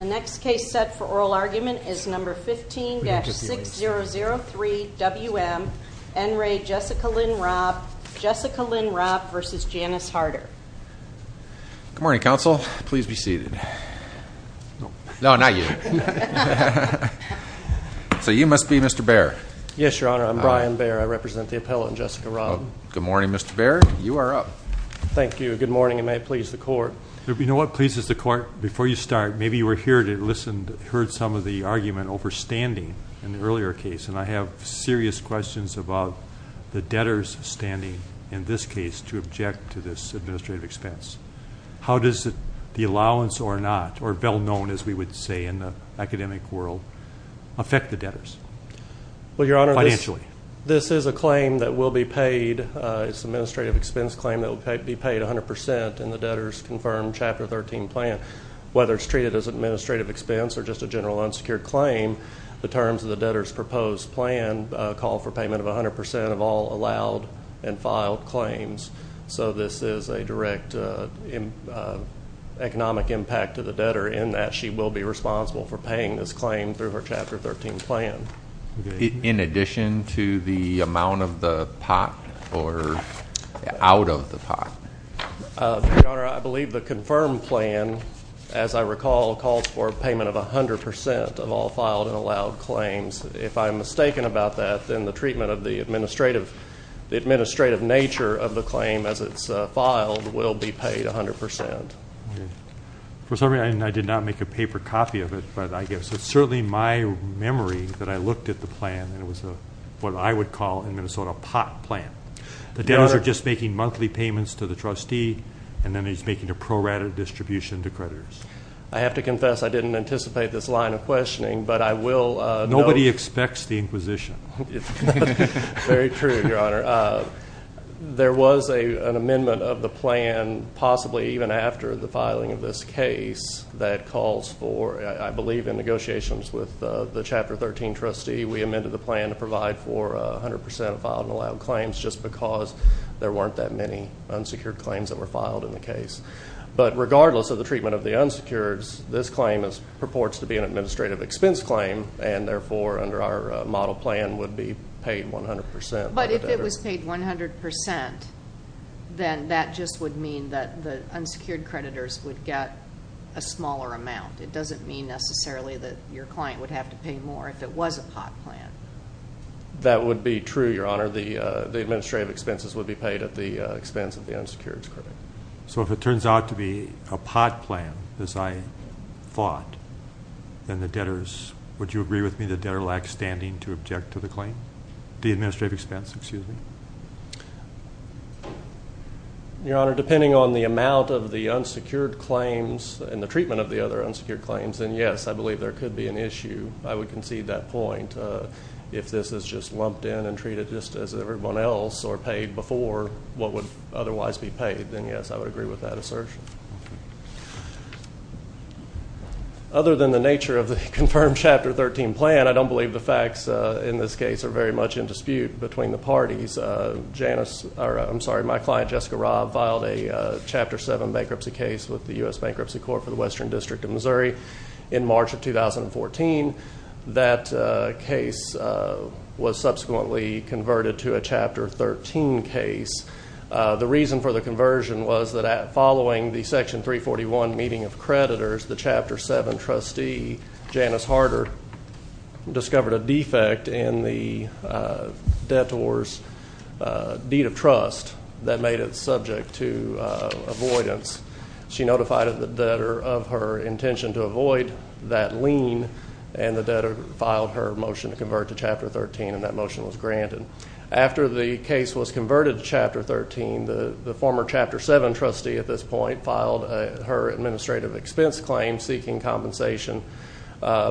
The next case set for oral argument is No. 15-6003 W.M. N. Ray, Jessica Lynn Robb v. Janice Harder Good morning, counsel. Please be seated. No, not you. So you must be Mr. Baer. Yes, Your Honor. I'm Brian Baer. I represent the appellant, Jessica Robb. Good morning, Mr. Baer. You are up. Thank you. Good morning, and may it please the Court. You know what, please, the Court, before you start, maybe you were here to hear some of the argument over standing in the earlier case, and I have serious questions about the debtor's standing in this case to object to this administrative expense. How does the allowance or not, or well known, as we would say in the academic world, affect the debtors financially? This is a claim that will be paid. It's an administrative expense claim that will be paid 100% in the debtor's confirmed Chapter 13 plan. Whether it's treated as an administrative expense or just a general unsecured claim, the terms of the debtor's proposed plan call for payment of 100% of all allowed and filed claims. So this is a direct economic impact to the debtor in that she will be responsible for paying this claim through her Chapter 13 plan. In addition to the amount of the pot or out of the pot? Your Honor, I believe the confirmed plan, as I recall, calls for payment of 100% of all filed and allowed claims. If I'm mistaken about that, then the treatment of the administrative nature of the claim as it's filed will be paid 100%. For some reason, I did not make a paper copy of it, but I guess it's certainly my memory that I looked at the plan, and it was what I would call in Minnesota a pot plan. The debtors are just making monthly payments to the trustee, and then he's making a prorated distribution to creditors. I have to confess I didn't anticipate this line of questioning, but I will- Nobody expects the inquisition. Very true, Your Honor. There was an amendment of the plan, possibly even after the filing of this case, that calls for, I believe, in negotiations with the Chapter 13 trustee, we amended the plan to provide for 100% of filed and allowed claims, just because there weren't that many unsecured claims that were filed in the case. But regardless of the treatment of the unsecured, this claim purports to be an administrative expense claim, and therefore under our model plan would be paid 100%. But if it was paid 100%, then that just would mean that the unsecured creditors would get a smaller amount. It doesn't mean necessarily that your client would have to pay more if it was a pot plan. That would be true, Your Honor. The administrative expenses would be paid at the expense of the unsecured creditors. So if it turns out to be a pot plan, as I thought, then the debtors, would you agree with me, the debtor lacks standing to object to the claim? The administrative expense, excuse me. Your Honor, depending on the amount of the unsecured claims and the treatment of the other unsecured claims, then yes, I believe there could be an issue. I would concede that point. If this is just lumped in and treated just as everyone else or paid before what would otherwise be paid, then yes, I would agree with that assertion. Other than the nature of the confirmed Chapter 13 plan, I don't believe the facts in this case are very much in dispute between the parties. Janice, I'm sorry, my client, Jessica Robb, filed a Chapter 7 bankruptcy case with the U.S. Bankruptcy Court for the Western District of Missouri in March of 2014. That case was subsequently converted to a Chapter 13 case. The reason for the conversion was that following the Section 341 meeting of creditors, the Chapter 7 trustee, Janice Harder, discovered a defect in the debtor's deed of trust that made it subject to avoidance. She notified the debtor of her intention to avoid that lien, and the debtor filed her motion to convert to Chapter 13, and that motion was granted. After the case was converted to Chapter 13, the former Chapter 7 trustee at this point filed her administrative expense claim seeking compensation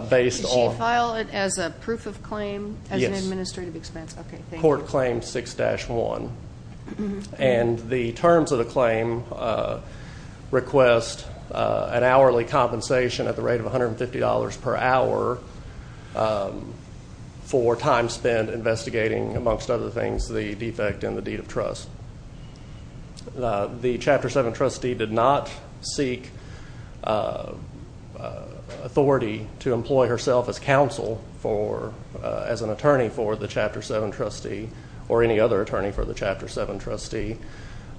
based on. Did she file it as a proof of claim as an administrative expense? Yes. Okay, thank you. And the terms of the claim request an hourly compensation at the rate of $150 per hour for time spent investigating, amongst other things, the defect in the deed of trust. The Chapter 7 trustee did not seek authority to employ herself as counsel for, as an attorney for the Chapter 7 trustee or any other attorney for the Chapter 7 trustee,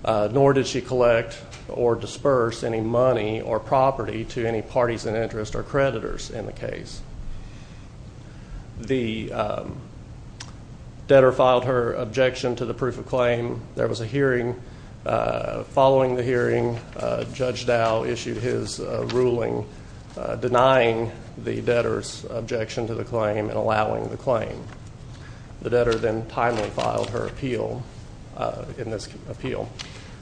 nor did she collect or disperse any money or property to any parties in interest or creditors in the case. The debtor filed her objection to the proof of claim. There was a hearing. Following the hearing, Judge Dow issued his ruling denying the debtor's objection to the claim and allowing the claim. The debtor then timely filed her appeal in this appeal.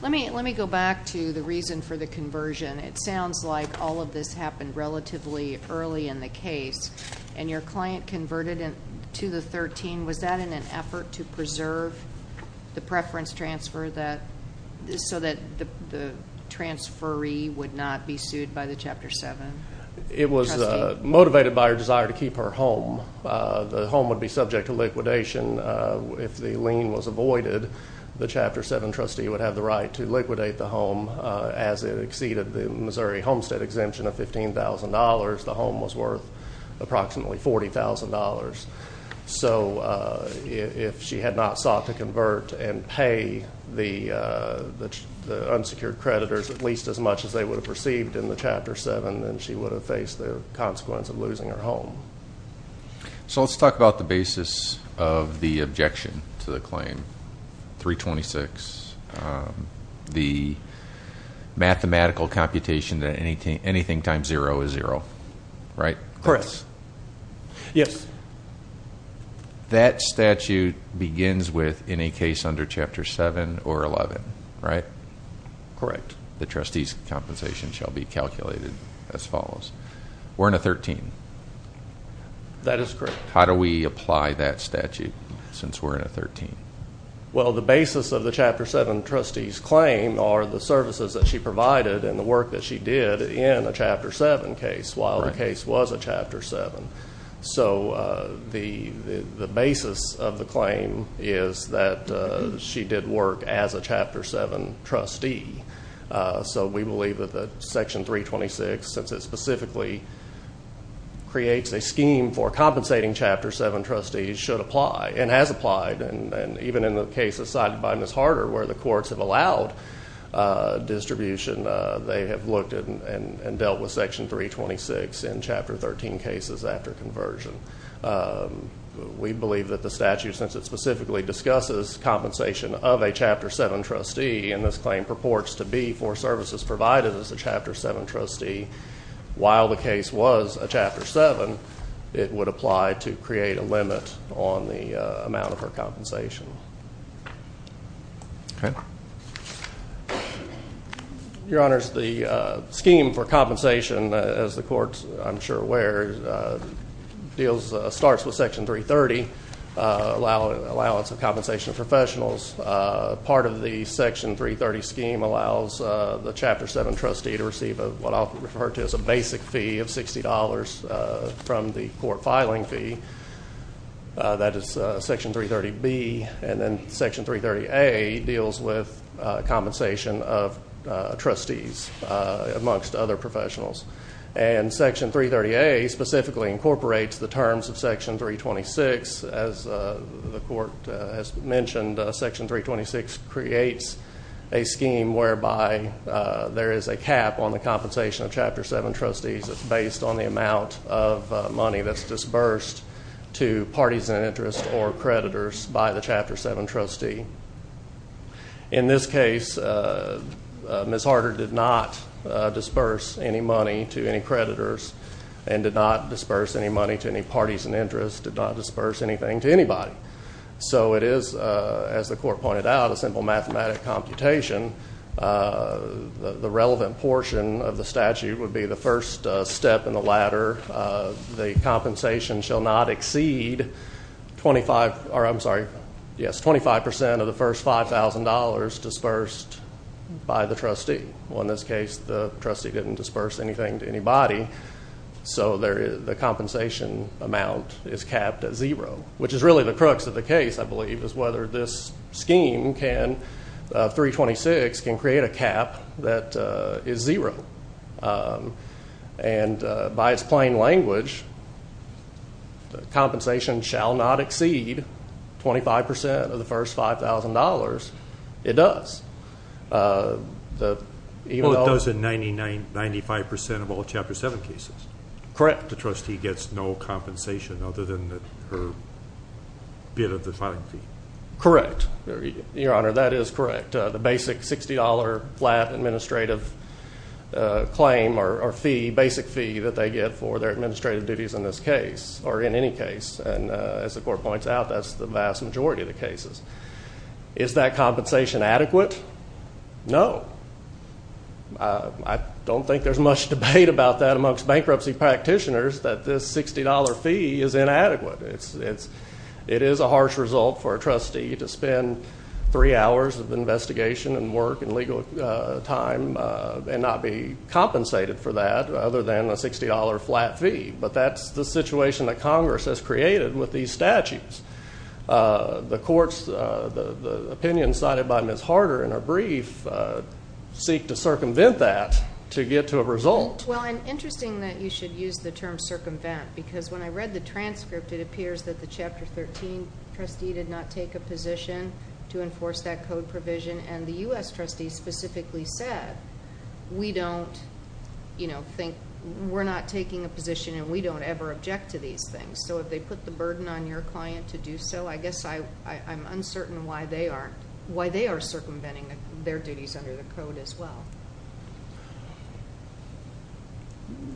Let me go back to the reason for the conversion. It sounds like all of this happened relatively early in the case, and your client converted to the 13. Was that in an effort to preserve the preference transfer so that the transferee would not be sued by the Chapter 7 trustee? It was motivated by her desire to keep her home. The home would be subject to liquidation. If the lien was avoided, the Chapter 7 trustee would have the right to liquidate the home. As it exceeded the Missouri homestead exemption of $15,000, the home was worth approximately $40,000. So if she had not sought to convert and pay the unsecured creditors at least as much as they would have received in the Chapter 7, then she would have faced the consequence of losing her home. So let's talk about the basis of the objection to the claim, 326, the mathematical computation that anything times zero is zero, right? Correct. Yes. That statute begins with any case under Chapter 7 or 11, right? Correct. The trustee's compensation shall be calculated as follows. We're in a 13. That is correct. How do we apply that statute since we're in a 13? Well, the basis of the Chapter 7 trustee's claim are the services that she provided and the work that she did in a Chapter 7 case while the case was a Chapter 7. So the basis of the claim is that she did work as a Chapter 7 trustee. So we believe that Section 326, since it specifically creates a scheme for compensating Chapter 7 trustees, should apply and has applied. And even in the cases cited by Ms. Harder where the courts have allowed distribution, they have looked and dealt with Section 326 in Chapter 13 cases after conversion. We believe that the statute, since it specifically discusses compensation of a Chapter 7 trustee, and this claim purports to be for services provided as a Chapter 7 trustee while the case was a Chapter 7, it would apply to create a limit on the amount of her compensation. Okay. Your Honors, the scheme for compensation, as the courts, I'm sure, are aware, starts with Section 330, allowance of compensation of professionals. Part of the Section 330 scheme allows the Chapter 7 trustee to receive what I'll refer to as a basic fee of $60 from the court filing fee. That is Section 330B. And then Section 330A deals with compensation of trustees amongst other professionals. And Section 330A specifically incorporates the terms of Section 326. As the court has mentioned, Section 326 creates a scheme whereby there is a cap on the compensation of Chapter 7 trustees. It's based on the amount of money that's disbursed to parties in interest or creditors by the Chapter 7 trustee. In this case, Ms. Harder did not disperse any money to any creditors and did not disperse any money to any parties in interest, did not disperse anything to anybody. So it is, as the court pointed out, a simple mathematic computation. The relevant portion of the statute would be the first step in the ladder. The compensation shall not exceed 25% of the first $5,000 disbursed by the trustee. Well, in this case, the trustee didn't disperse anything to anybody. So the compensation amount is capped at zero, which is really the crux of the case, I believe, is whether this scheme can, 326, can create a cap that is zero. And by its plain language, the compensation shall not exceed 25% of the first $5,000. It does. Well, it does in 95% of all Chapter 7 cases. Correct. Except the trustee gets no compensation other than her bid of the filing fee. Correct. Your Honor, that is correct. The basic $60 flat administrative claim or fee, basic fee, that they get for their administrative duties in this case, or in any case. And as the court points out, that's the vast majority of the cases. Is that compensation adequate? No. I don't think there's much debate about that amongst bankruptcy practitioners that this $60 fee is inadequate. It is a harsh result for a trustee to spend three hours of investigation and work and legal time and not be compensated for that other than a $60 flat fee. But that's the situation that Congress has created with these statutes. The courts, the opinion cited by Ms. Harder in her brief, seek to circumvent that to get to a result. Well, and interesting that you should use the term circumvent because when I read the transcript, it appears that the Chapter 13 trustee did not take a position to enforce that code provision. And the U.S. trustee specifically said, we don't, you know, think we're not taking a position and we don't ever object to these things. So if they put the burden on your client to do so, I guess I'm uncertain why they aren't, why they are circumventing their duties under the code as well.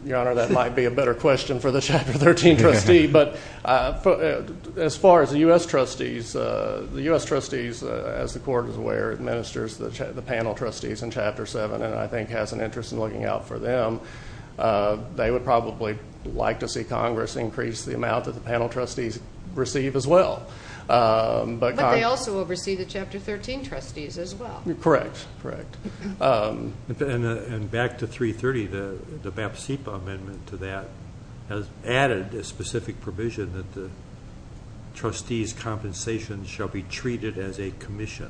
Your Honor, that might be a better question for the Chapter 13 trustee. But as far as the U.S. trustees, the U.S. trustees, as the court is aware, administers the panel trustees in Chapter 7 and I think has an interest in looking out for them. They would probably like to see Congress increase the amount that the panel trustees receive as well. But they also oversee the Chapter 13 trustees as well. Correct, correct. And back to 330, the BAP CEPA amendment to that has added a specific provision that the trustees' compensation shall be treated as a commission.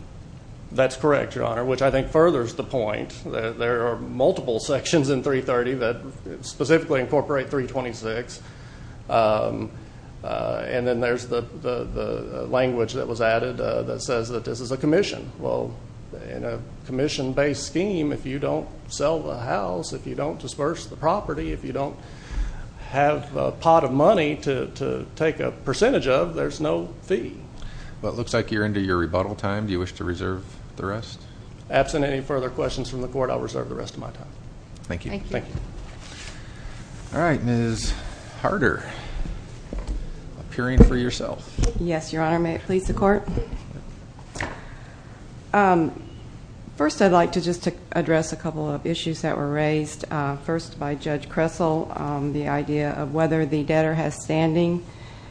That's correct, Your Honor, which I think furthers the point. There are multiple sections in 330 that specifically incorporate 326. And then there's the language that was added that says that this is a commission. Well, in a commission-based scheme, if you don't sell the house, if you don't disperse the property, if you don't have a pot of money to take a percentage of, there's no fee. Well, it looks like you're into your rebuttal time. Do you wish to reserve the rest? Absent any further questions from the court, I'll reserve the rest of my time. Thank you. Thank you. All right, Ms. Harder, appearing for yourself. Yes, Your Honor. May it please the Court? First, I'd like to just address a couple of issues that were raised. First, by Judge Kressel, the idea of whether the debtor has standing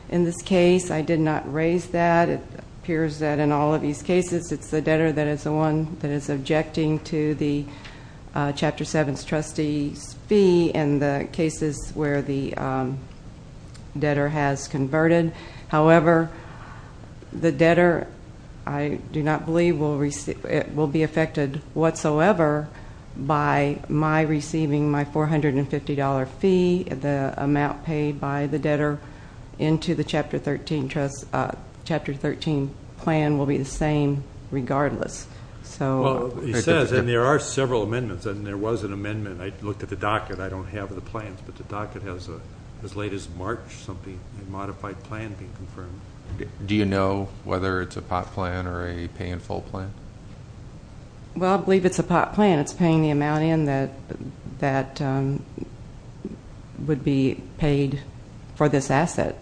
in this case. I did not raise that. It appears that in all of these cases, it's the debtor that is the one that is objecting to the Chapter 7 Trustee's fee and the cases where the debtor has converted. However, the debtor, I do not believe, will be affected whatsoever by my receiving my $450 fee, the amount paid by the debtor into the Chapter 13 plan will be the same regardless. He says, and there are several amendments, and there was an amendment. I looked at the docket. I don't have the plans, but the docket has as late as March something, a modified plan being confirmed. Do you know whether it's a pot plan or a pay-in-full plan? Well, I believe it's a pot plan. It's paying the amount in that would be paid for this asset.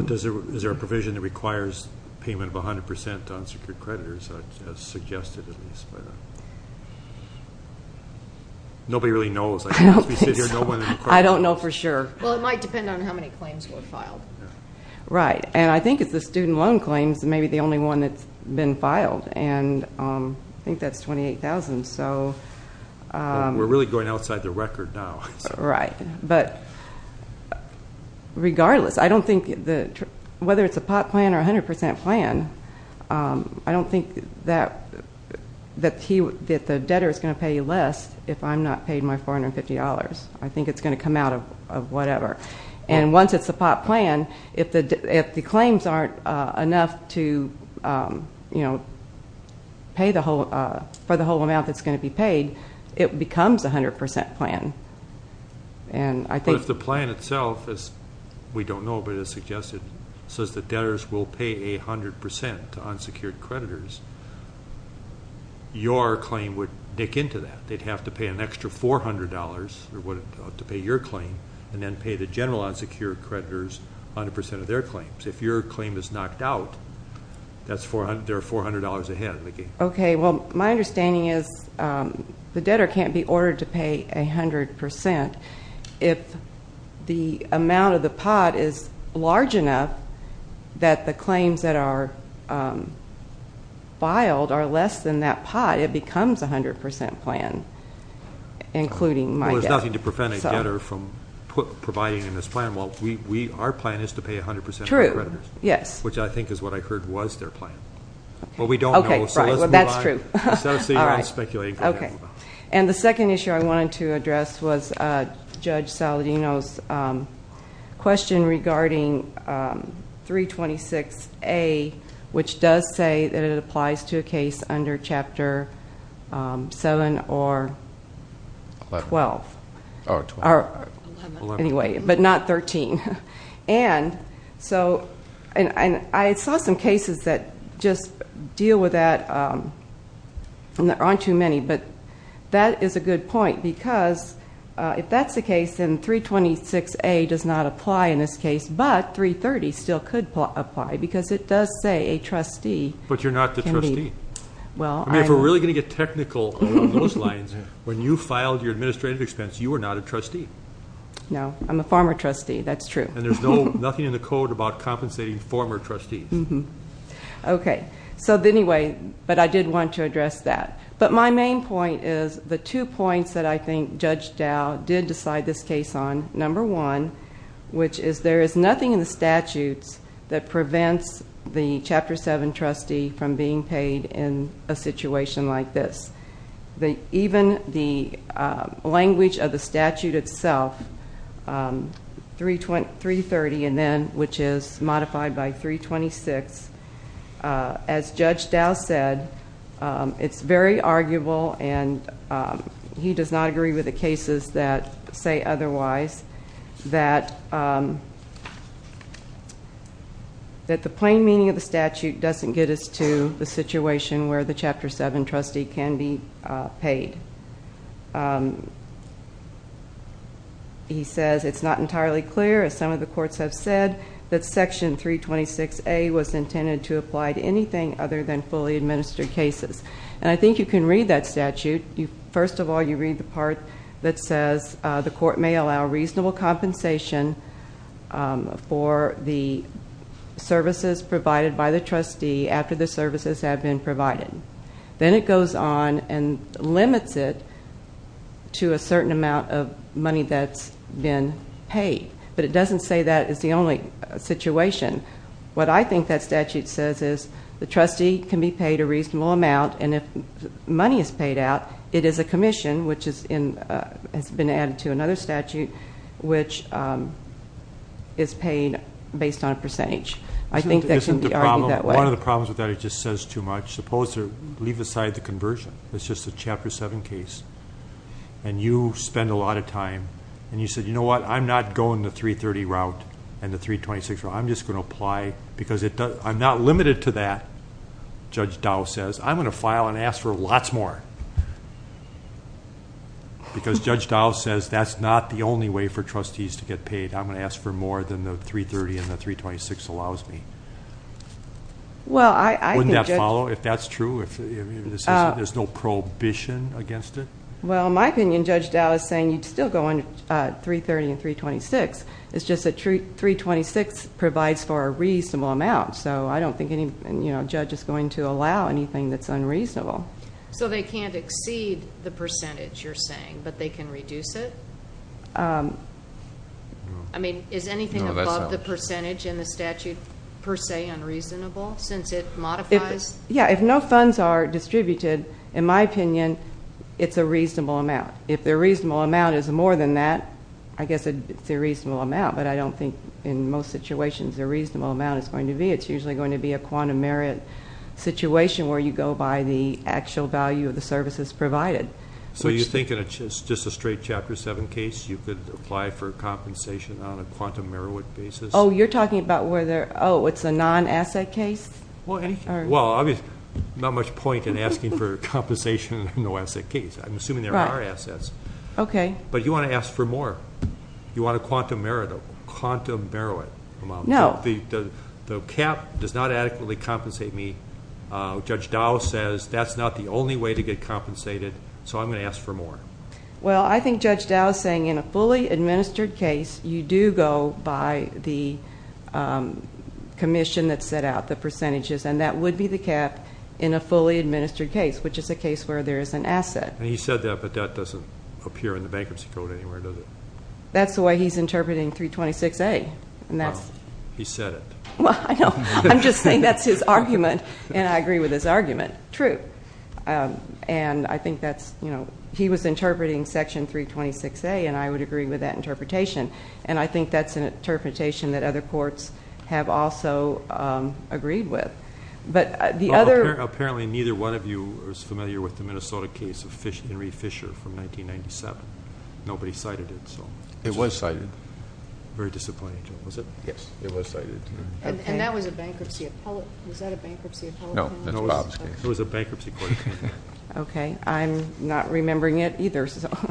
Is there a provision that requires payment of 100% to unsecured creditors, as suggested at least? Nobody really knows. I don't know for sure. Well, it might depend on how many claims were filed. Right, and I think it's the student loan claims that may be the only one that's been filed. I think that's $28,000. We're really going outside the record now. Right, but regardless, I don't think whether it's a pot plan or a 100% plan, I don't think that the debtor is going to pay less if I'm not paid my $450. I think it's going to come out of whatever. And once it's a pot plan, if the claims aren't enough for the whole amount that's going to be paid, it becomes a 100% plan. But if the plan itself, as we don't know but it's suggested, says that debtors will pay 100% to unsecured creditors, your claim would dick into that. They'd have to pay an extra $400 to pay your claim and then pay the general unsecured creditors 100% of their claims. If your claim is knocked out, there are $400 ahead. Okay, well, my understanding is the debtor can't be ordered to pay 100%. If the amount of the pot is large enough that the claims that are filed are less than that pot, it becomes a 100% plan, including my debt. Well, there's nothing to prevent a debtor from providing in this plan. Well, our plan is to pay 100% to creditors. True, yes. Which I think is what I heard was their plan. Okay, right. Well, we don't know, so let's move on. Well, that's true. All right. And the second issue I wanted to address was Judge Saladino's question regarding 326A, which does say that it applies to a case under Chapter 7 or 12. Oh, 12. Anyway, but not 13. And I saw some cases that just deal with that. There aren't too many, but that is a good point because if that's the case, then 326A does not apply in this case, but 330 still could apply because it does say a trustee can be. But you're not the trustee. I mean, if we're really going to get technical on those lines, when you filed your administrative expense, you were not a trustee. No, I'm a former trustee. That's true. And there's nothing in the code about compensating former trustees. Okay. So, anyway, but I did want to address that. But my main point is the two points that I think Judge Dow did decide this case on, number one, which is there is nothing in the statutes that prevents the Chapter 7 trustee from being paid in a situation like this. Even the language of the statute itself, 330 and then, which is modified by 326, as Judge Dow said, it's very arguable and he does not agree with the cases that say otherwise, that the plain meaning of the statute doesn't get us to the situation where the Chapter 7 trustee can be paid. He says it's not entirely clear, as some of the courts have said, that Section 326A was intended to apply to anything other than fully administered cases. And I think you can read that statute. First of all, you read the part that says the court may allow reasonable compensation for the services provided by the trustee after the services have been provided. Then it goes on and limits it to a certain amount of money that's been paid. But it doesn't say that is the only situation. What I think that statute says is the trustee can be paid a reasonable amount and if money is paid out, it is a commission, which has been added to another statute, which is paid based on a percentage. I think that can be argued that way. One of the problems with that is it just says too much. Leave aside the conversion. It's just a Chapter 7 case. And you spend a lot of time. And you said, you know what, I'm not going the 330 route and the 326 route. I'm just going to apply because I'm not limited to that, Judge Dow says. I'm going to file and ask for lots more. Because Judge Dow says that's not the only way for trustees to get paid. I'm going to ask for more than the 330 and the 326 allows me. Wouldn't that follow if that's true, if there's no prohibition against it? Well, in my opinion, Judge Dow is saying you'd still go on 330 and 326. It's just that 326 provides for a reasonable amount. So I don't think any judge is going to allow anything that's unreasonable. So they can't exceed the percentage, you're saying, but they can reduce it? I mean, is anything above the percentage in the statute per se unreasonable since it modifies? Yeah, if no funds are distributed, in my opinion, it's a reasonable amount. If the reasonable amount is more than that, I guess it's a reasonable amount. But I don't think in most situations a reasonable amount is going to be. It's usually going to be a quantum merit situation where you go by the actual value of the services provided. So you're thinking it's just a straight Chapter 7 case? You could apply for compensation on a quantum merit basis? Oh, you're talking about where they're – oh, it's a non-asset case? Well, not much point in asking for compensation in a non-asset case. I'm assuming there are assets. But you want to ask for more. You want a quantum merit amount. No. The cap does not adequately compensate me. Judge Dow says that's not the only way to get compensated, so I'm going to ask for more. Well, I think Judge Dow is saying in a fully administered case, you do go by the commission that set out the percentages, and that would be the cap in a fully administered case, which is a case where there is an asset. He said that, but that doesn't appear in the bankruptcy code anywhere, does it? That's the way he's interpreting 326A. He said it. Well, I know. I'm just saying that's his argument, and I agree with his argument. True. And I think that's – he was interpreting Section 326A, and I would agree with that interpretation. And I think that's an interpretation that other courts have also agreed with. But the other – Well, apparently neither one of you is familiar with the Minnesota case of Henry Fisher from 1997. Nobody cited it. It was cited. Very disappointing, was it? Yes. It was cited. And that was a bankruptcy – was that a bankruptcy appellate case? No, that's Bob's case. It was a bankruptcy court case. Okay. I'm not remembering it either, so –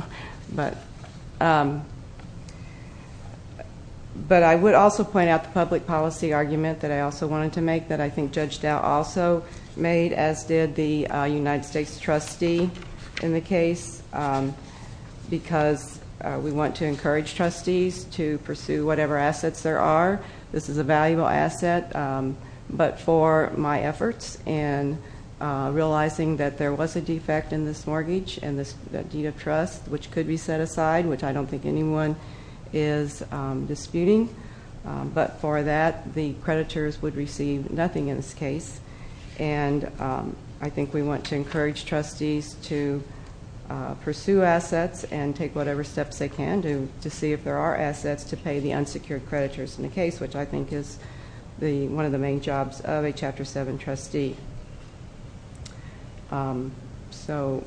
but I would also point out the public policy argument that I also wanted to make that I think Judge Dow also made, as did the United States trustee in the case, because we want to encourage trustees to pursue whatever assets there are. This is a valuable asset, but for my efforts in realizing that there was a defect in this mortgage and that deed of trust, which could be set aside, which I don't think anyone is disputing, but for that, the creditors would receive nothing in this case. And I think we want to encourage trustees to pursue assets and take whatever steps they can to see if there are assets to pay the unsecured creditors in the case, which I think is one of the main jobs of a Chapter 7 trustee. So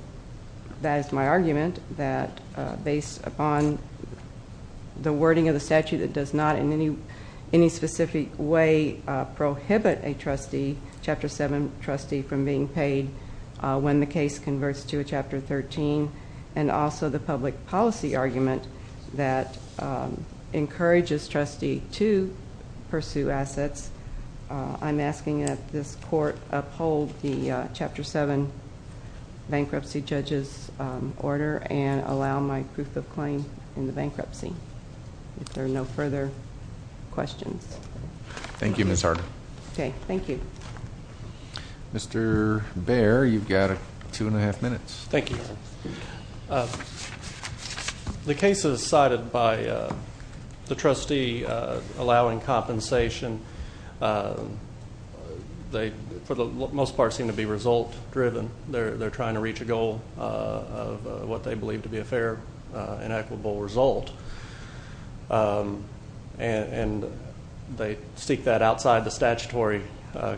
that is my argument, that based upon the wording of the statute, it does not in any specific way prohibit a trustee, a Chapter 7 trustee, from being paid when the case converts to a Chapter 13, and also the public policy argument that encourages trustees to pursue assets. I'm asking that this court uphold the Chapter 7 bankruptcy judge's order and allow my proof of claim in the bankruptcy. If there are no further questions. Thank you, Ms. Harder. Okay, thank you. Mr. Bair, you've got two and a half minutes. Thank you. The cases cited by the trustee allowing compensation, they for the most part seem to be result driven. They're trying to reach a goal of what they believe to be a fair and equitable result. And they seek that outside the statutory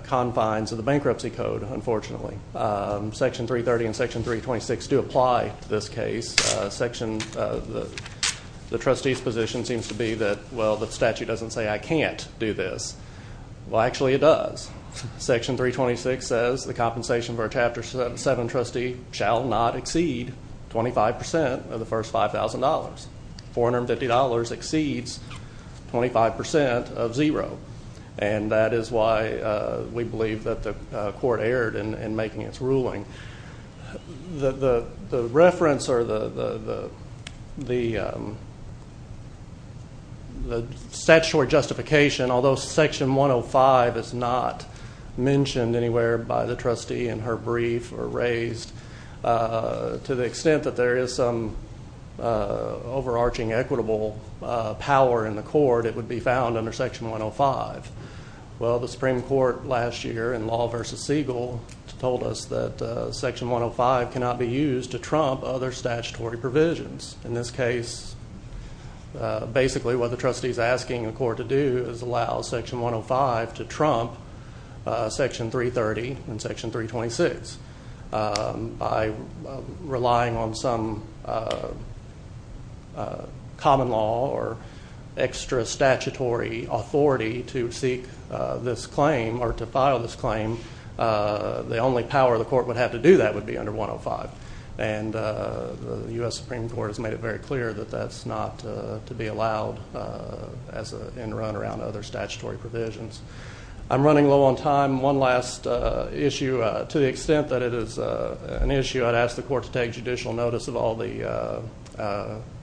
confines of the bankruptcy code, unfortunately. Section 330 and Section 326 do apply to this case. The trustees' position seems to be that, well, the statute doesn't say I can't do this. Well, actually it does. Section 326 says the compensation for a Chapter 7 trustee $450 exceeds 25% of zero. And that is why we believe that the court erred in making its ruling. The reference or the statutory justification, although Section 105 is not mentioned anywhere by the trustee in her brief or raised to the extent that there is some overarching equitable power in the court, it would be found under Section 105. Well, the Supreme Court last year in Law v. Siegel told us that Section 105 cannot be used to trump other statutory provisions. In this case, basically what the trustee is asking the court to do is allow Section 105 to trump Section 330 and Section 326. By relying on some common law or extra statutory authority to seek this claim or to file this claim, the only power the court would have to do that would be under 105. And the U.S. Supreme Court has made it very clear that that's not to be allowed as an end run around other statutory provisions. I'm running low on time. One last issue. To the extent that it is an issue, I'd ask the court to take judicial notice of all the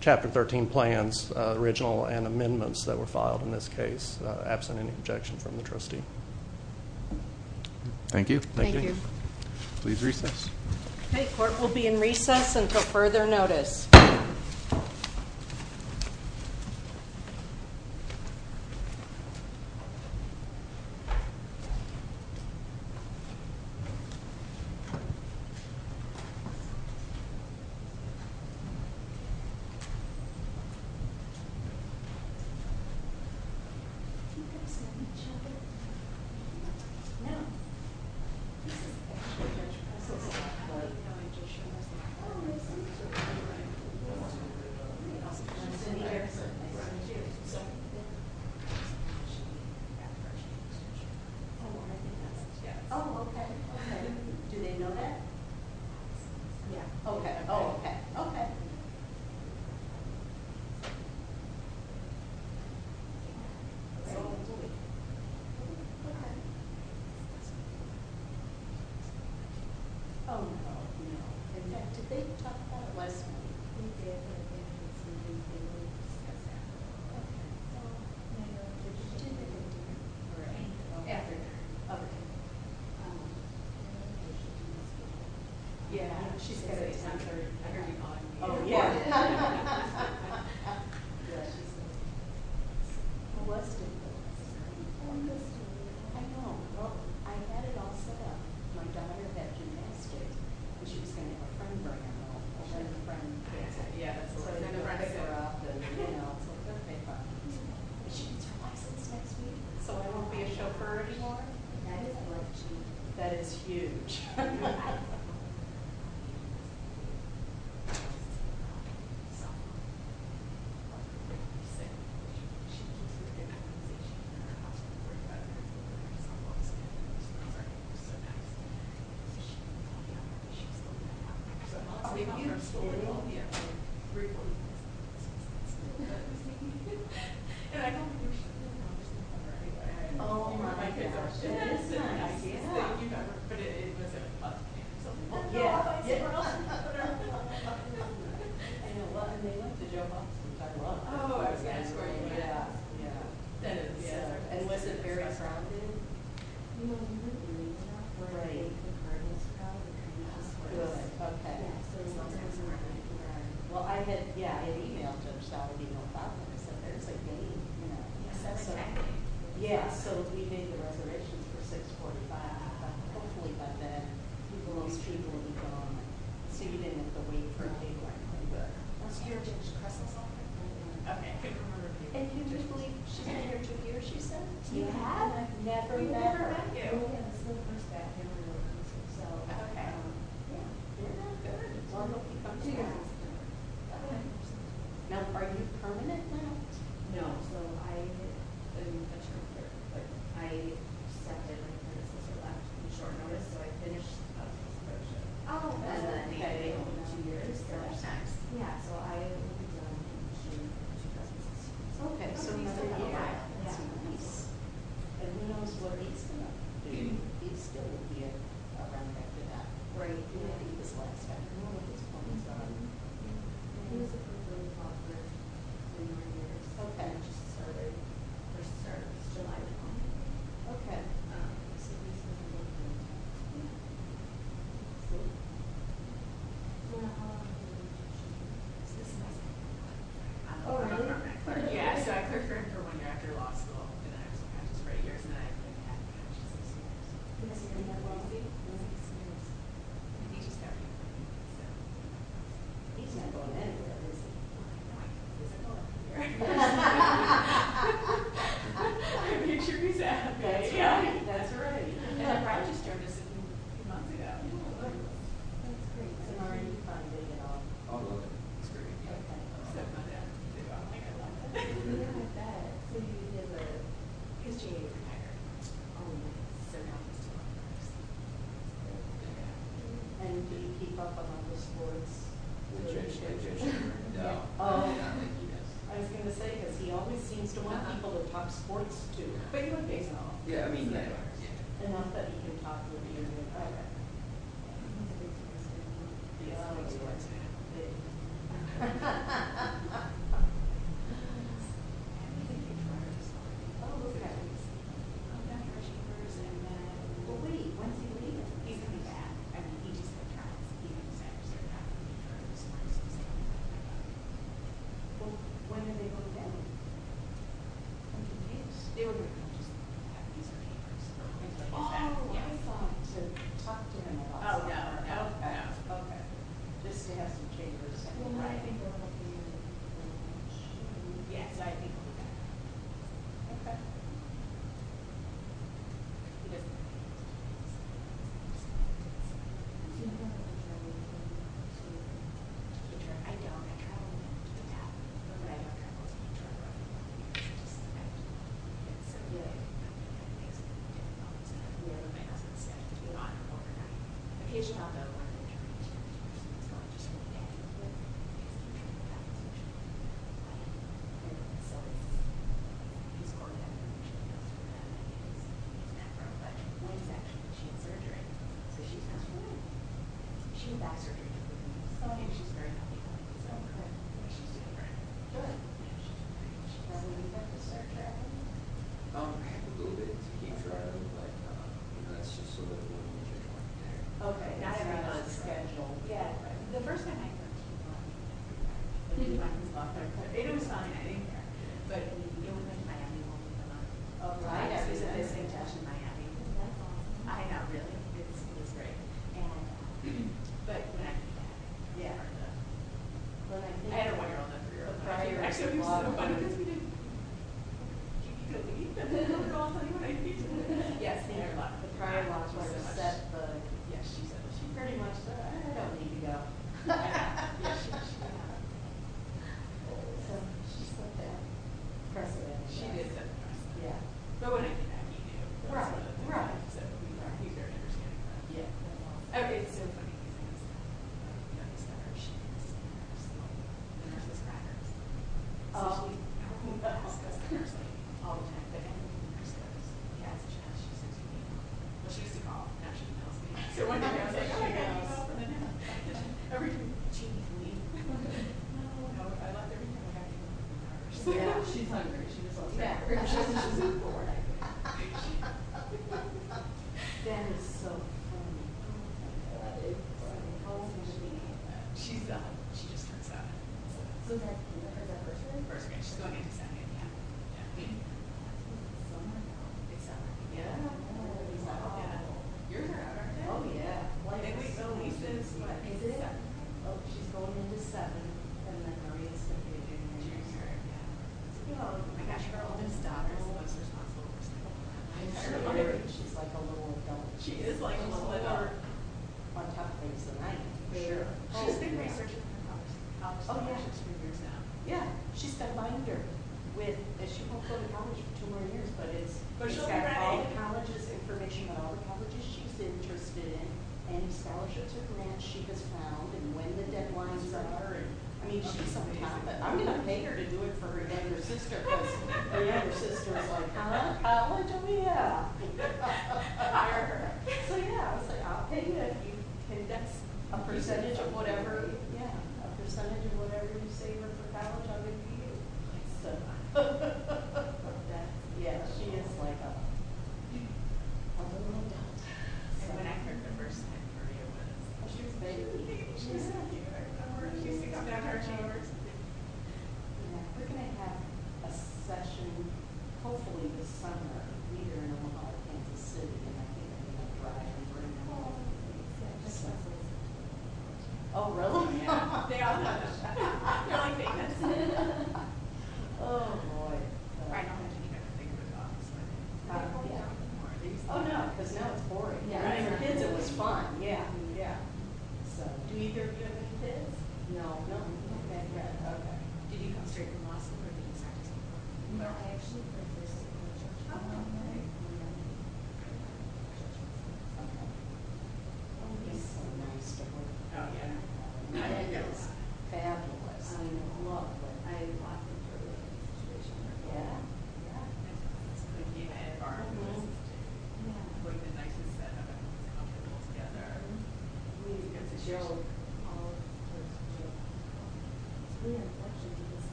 Chapter 13 plans, original and amendments that were filed in this case, absent any objection from the trustee. Thank you. Thank you. Please recess. The court will be in recess until further notice.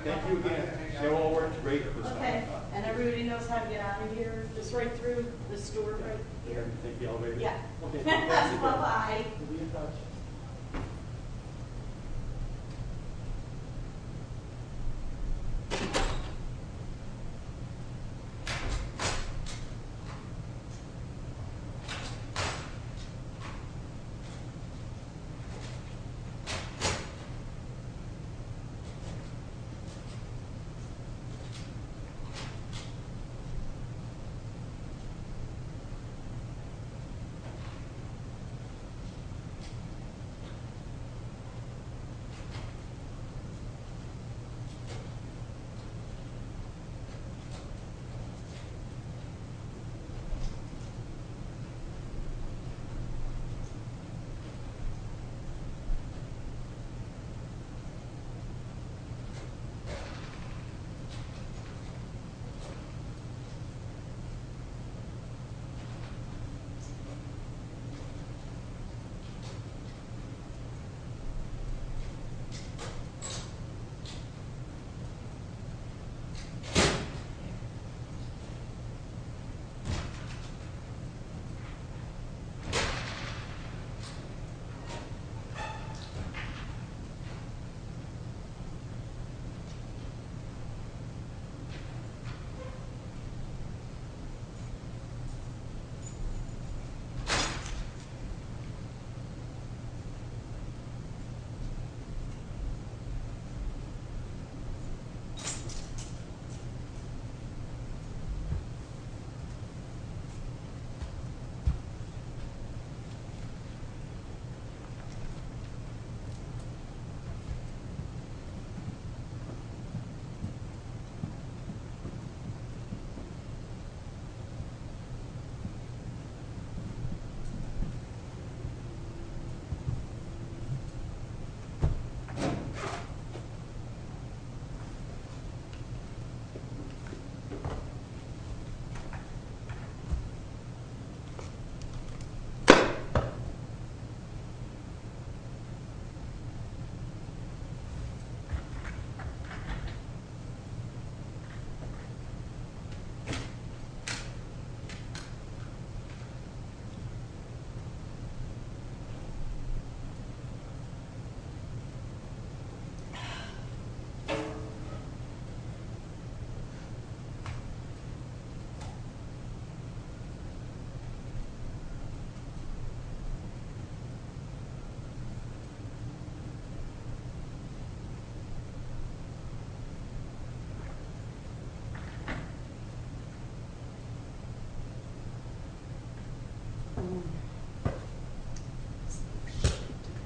Okay. Did they talk about it? Yes, ma'am. They did. Okay. Did they have dinner? After dinner. Okay. Did she do this before? Yeah. I heard you calling me. Oh, yeah. Yes, she did. Who was it that was? I know. Well, I had it all set up. My daughter had gymnastics, and she was going to have a friend bring her home, and then a friend picked her. Yeah, that's right. So then I would pick her up, and, you know, it's like, okay, fine. But she gets her license next week. So I won't be a chauffeur anymore? That is great news. That is huge. Oh, my goodness. Yeah. Yeah. Yeah. Yeah. Yeah. Can you believe she's been here two years, she said? You have? And I've never met her. We never met you. Oh yeah, this is the first time I've ever met her. Okay. Yeah. You're not good. Well, I hope you come to us. Yeah. Okay. Now, are you permanent now? No. So, I've been a term here. But I accepted when my sister left in short notice, so I finished the business membership. Oh, okay. And then they gave me two years. Yeah, so I moved on in June of 2016. Okay, so you've been here a while. Yeah. And who knows what it is now? Maybe it's still going to be around after that. Right. Maybe this last time. Do you know what this poem is on? Yeah. I think it was a book really popular in your years. Okay. It just started. It just started. It's a July poem. Okay. So, at least it's a little bit old. Yeah. Let's see. Well, how long have you been teaching here? So, this is my second term. Oh, really? Yeah, so I cleared for him for one year after law school. And I was like, I'm just right here. And then I had to catch this. And this is in the lobby? Yes. And he just got here. Yeah. He's not going anywhere, is he? Oh, my God. He's not going anywhere. I made sure he's happy. That's right. That's right. And I just joined us a few months ago. Yeah. That's great. So, how are you funding it all? Oh, good. It's great. Okay. Except my dad. I don't think I love him. I bet. He's changing his attire. Oh, my goodness. And do you keep up among the sports? I was going to say, because he always seems to want people to talk sports to him. But you're a baseball player. Yeah, I mean, yeah. Enough that he can talk with you in your attire. He's a big sports fan. Oh, okay. Oh, okay. Well, wait. When's he leaving? He's going to be back. I mean, he just got here. He's going to be back. He's going to be back. Well, when are they going to get him? I'm confused. They were going to come just a little bit back. He's going to be back. Oh, I thought to talk to him a little bit. Oh, yeah. Oh, yeah. Okay. Just to have some changes. Well, I think they're going to be in a little bit of a rush. Yes, I think they're going to be back. Okay. He doesn't want me to talk to him. He doesn't want me to talk to him. Do you know if he'll travel with you? I don't. I travel with him to the table. But I don't travel with him. He travels with me. It's just that I don't want him to get sick. Yeah. I mean, that makes it a little bit difficult. Yeah. Okay. Not everyone's on schedule. Yeah. The first time I met him, he was walking down the street. He was walking. He was walking. He was walking. It was fine. I didn't care. But he only went to Miami once a month. Oh, right. Is it the same test in Miami? I don't know. I know. Really? It was great. But when I met him, it was hard enough. Yeah. I had a one-year-old and a three-year-old. Right. It was so funny because we didn't keep good leave. And then we were all playing hide and seek. Yes. And then the prior law clerk said, but she pretty much said, I don't need to go. Yeah. She said that. She did say that. Yeah. But what did he actually do? Right. Right. He said, well, we've already got her standing around. Yeah. Okay. It's so funny because I miss that. I miss that. I miss that. I miss that. I miss that. I miss those crackers. I miss those crackers. I miss those crackers. I miss those crackers. I miss those crackers. I miss those crackers. It's so funny to me because we had a lot of fun and we had a lot of fun. Oh, yeah. Because now it's boring. Right. And the kids, it was fun. Yeah. Yeah. Do either of you have any kids? No, no. Okay. Okay. Did you come straight from Los Angeles? No. I actually came from Georgia. Oh, okay. How could you? Oh, he's so nice to work with. Oh, yeah. He's fabulous. I know. I love it. I am so proud of him. Yeah. It was fun. It was fun. Yeah. Yeah. Yeah. We did a lot of stuff together. Yeah. The nicest bed I've ever built together. It was a joke. All of those jokes. We actually did the best job ever. Yeah. Why do you think I bet? I know. It's not funny. Oh. Did you think about that? We had it where it had something here that was screened. It's usually fuzzy. Oh, I see. Or there's that second delay when somebody talks and another person hears them. Oh, yeah. But this is all new equipment they've got. It's got a view. It makes it happy. And one of the things that I love about this is that it's a lot of fun. I mean, I was just shuffling these papers. I know. I know. I was like you're definitely going to get this one out. And just when he had it, I don't know. He says he said, I'm just thinking if he gets them all to the closet, I'm struggling. I know. No, he should start. He was wrong. I would have said slap. You know what? I don't know when you're going to start. I would have said slap. I think you're right. I would have said slap. Yeah, definitely. I would have been like, take as long as you'd like. And I figured the judge would see it. They'll give him more time to think about what he's doing. Not my problem. Not at all. He knew. I mean, they see the clock. They can hear it. The judges. No, the. Yes. Yes. We have a camera over there pointed at the clock. So they have a split screen. Ah. And the red is on one half, and the clock, it lights on the other. Well, we did this up in St. Paul a couple months ago. And we couldn't. We didn't have the second. Ah. So the judge just had to tell them, OK, your yellow light's on. But that's part of what you start to relate to. Yeah. Yeah. Because you think it's in five minutes, and all of a sudden. Yeah. Because the time flies when you're up there. And it broke sort of their stream when the judge had to say, excuse me, but your yellow light's on. Yeah. So I was glad Jim was able to fix this up, too. Yeah. Yeah. I wasn't expecting to see that. Yeah. I didn't know he was going to do that, either. But apparently, now all of the circuit court rooms are going to be set up with that equipment. So St. Paul, here, and the City Hall. So nobody can do this. Those are only the second or something. Just about. I mean, they're trying to cut costs. So we're making more turns into us instead of into them. I like that. Because it's easier to travel. Right. It's much easier to travel. Yeah. I know we've had some cases out of Fargo, but it's always just one case. So you can do the New York-Fargo Fair. I mean, actually, we have two or three cases that go up there. Let me just say, these ones are so small. It's nuts. It's nuts. Yeah. Mine says, like, in March, it was snowing. And that March was the summer. Is that one? You can only find one. So does that mean when we get stuck, our plane is in St. Paul? Maybe that was in St. Paul. That was when we ate. The first time we ordered, right? Years ago. Yes. That was. So you just, yeah. Hello. Hi. Just the person I was looking for. Actually, you two. Okay. You guys can come back now. Okay. Emily, I think I'm going to have lunch with Judge Schirmer. Yes, yes. By the way, this is Brian Elgar, our new law clerk. Well, come on back. Follow him. Judge Schirmer had told me that you were Judge Kressel. Yeah, but I think Judge Kressel is trying to get on an earlier flight. Oh, I see. Okay. Yeah, go ahead and come on back. Okay. Okay. Okay. Okay. Okay. Okay. Okay. Okay. Okay. Cindy? Oh, yes. We're going to take off. We got on the flight. Did you get an earlier one? Okay, great. So we're going to catch that cab. Oh, okay. Yeah. Oh, okay. Thank you again. Great. Okay. And everybody knows how to get out of here. Just right through the store right here. Take the elevator? Yeah. Okay. Bye-bye. Bye-bye. Have a good day. Thank you. Have a good day. Bye-bye. Have a good day. Bye-bye. Have a good day. Bye-bye. Have a good day. Bye-bye. Have a good day. Bye-bye. Have a good day. Have a good day. Have a good day. Have a good day.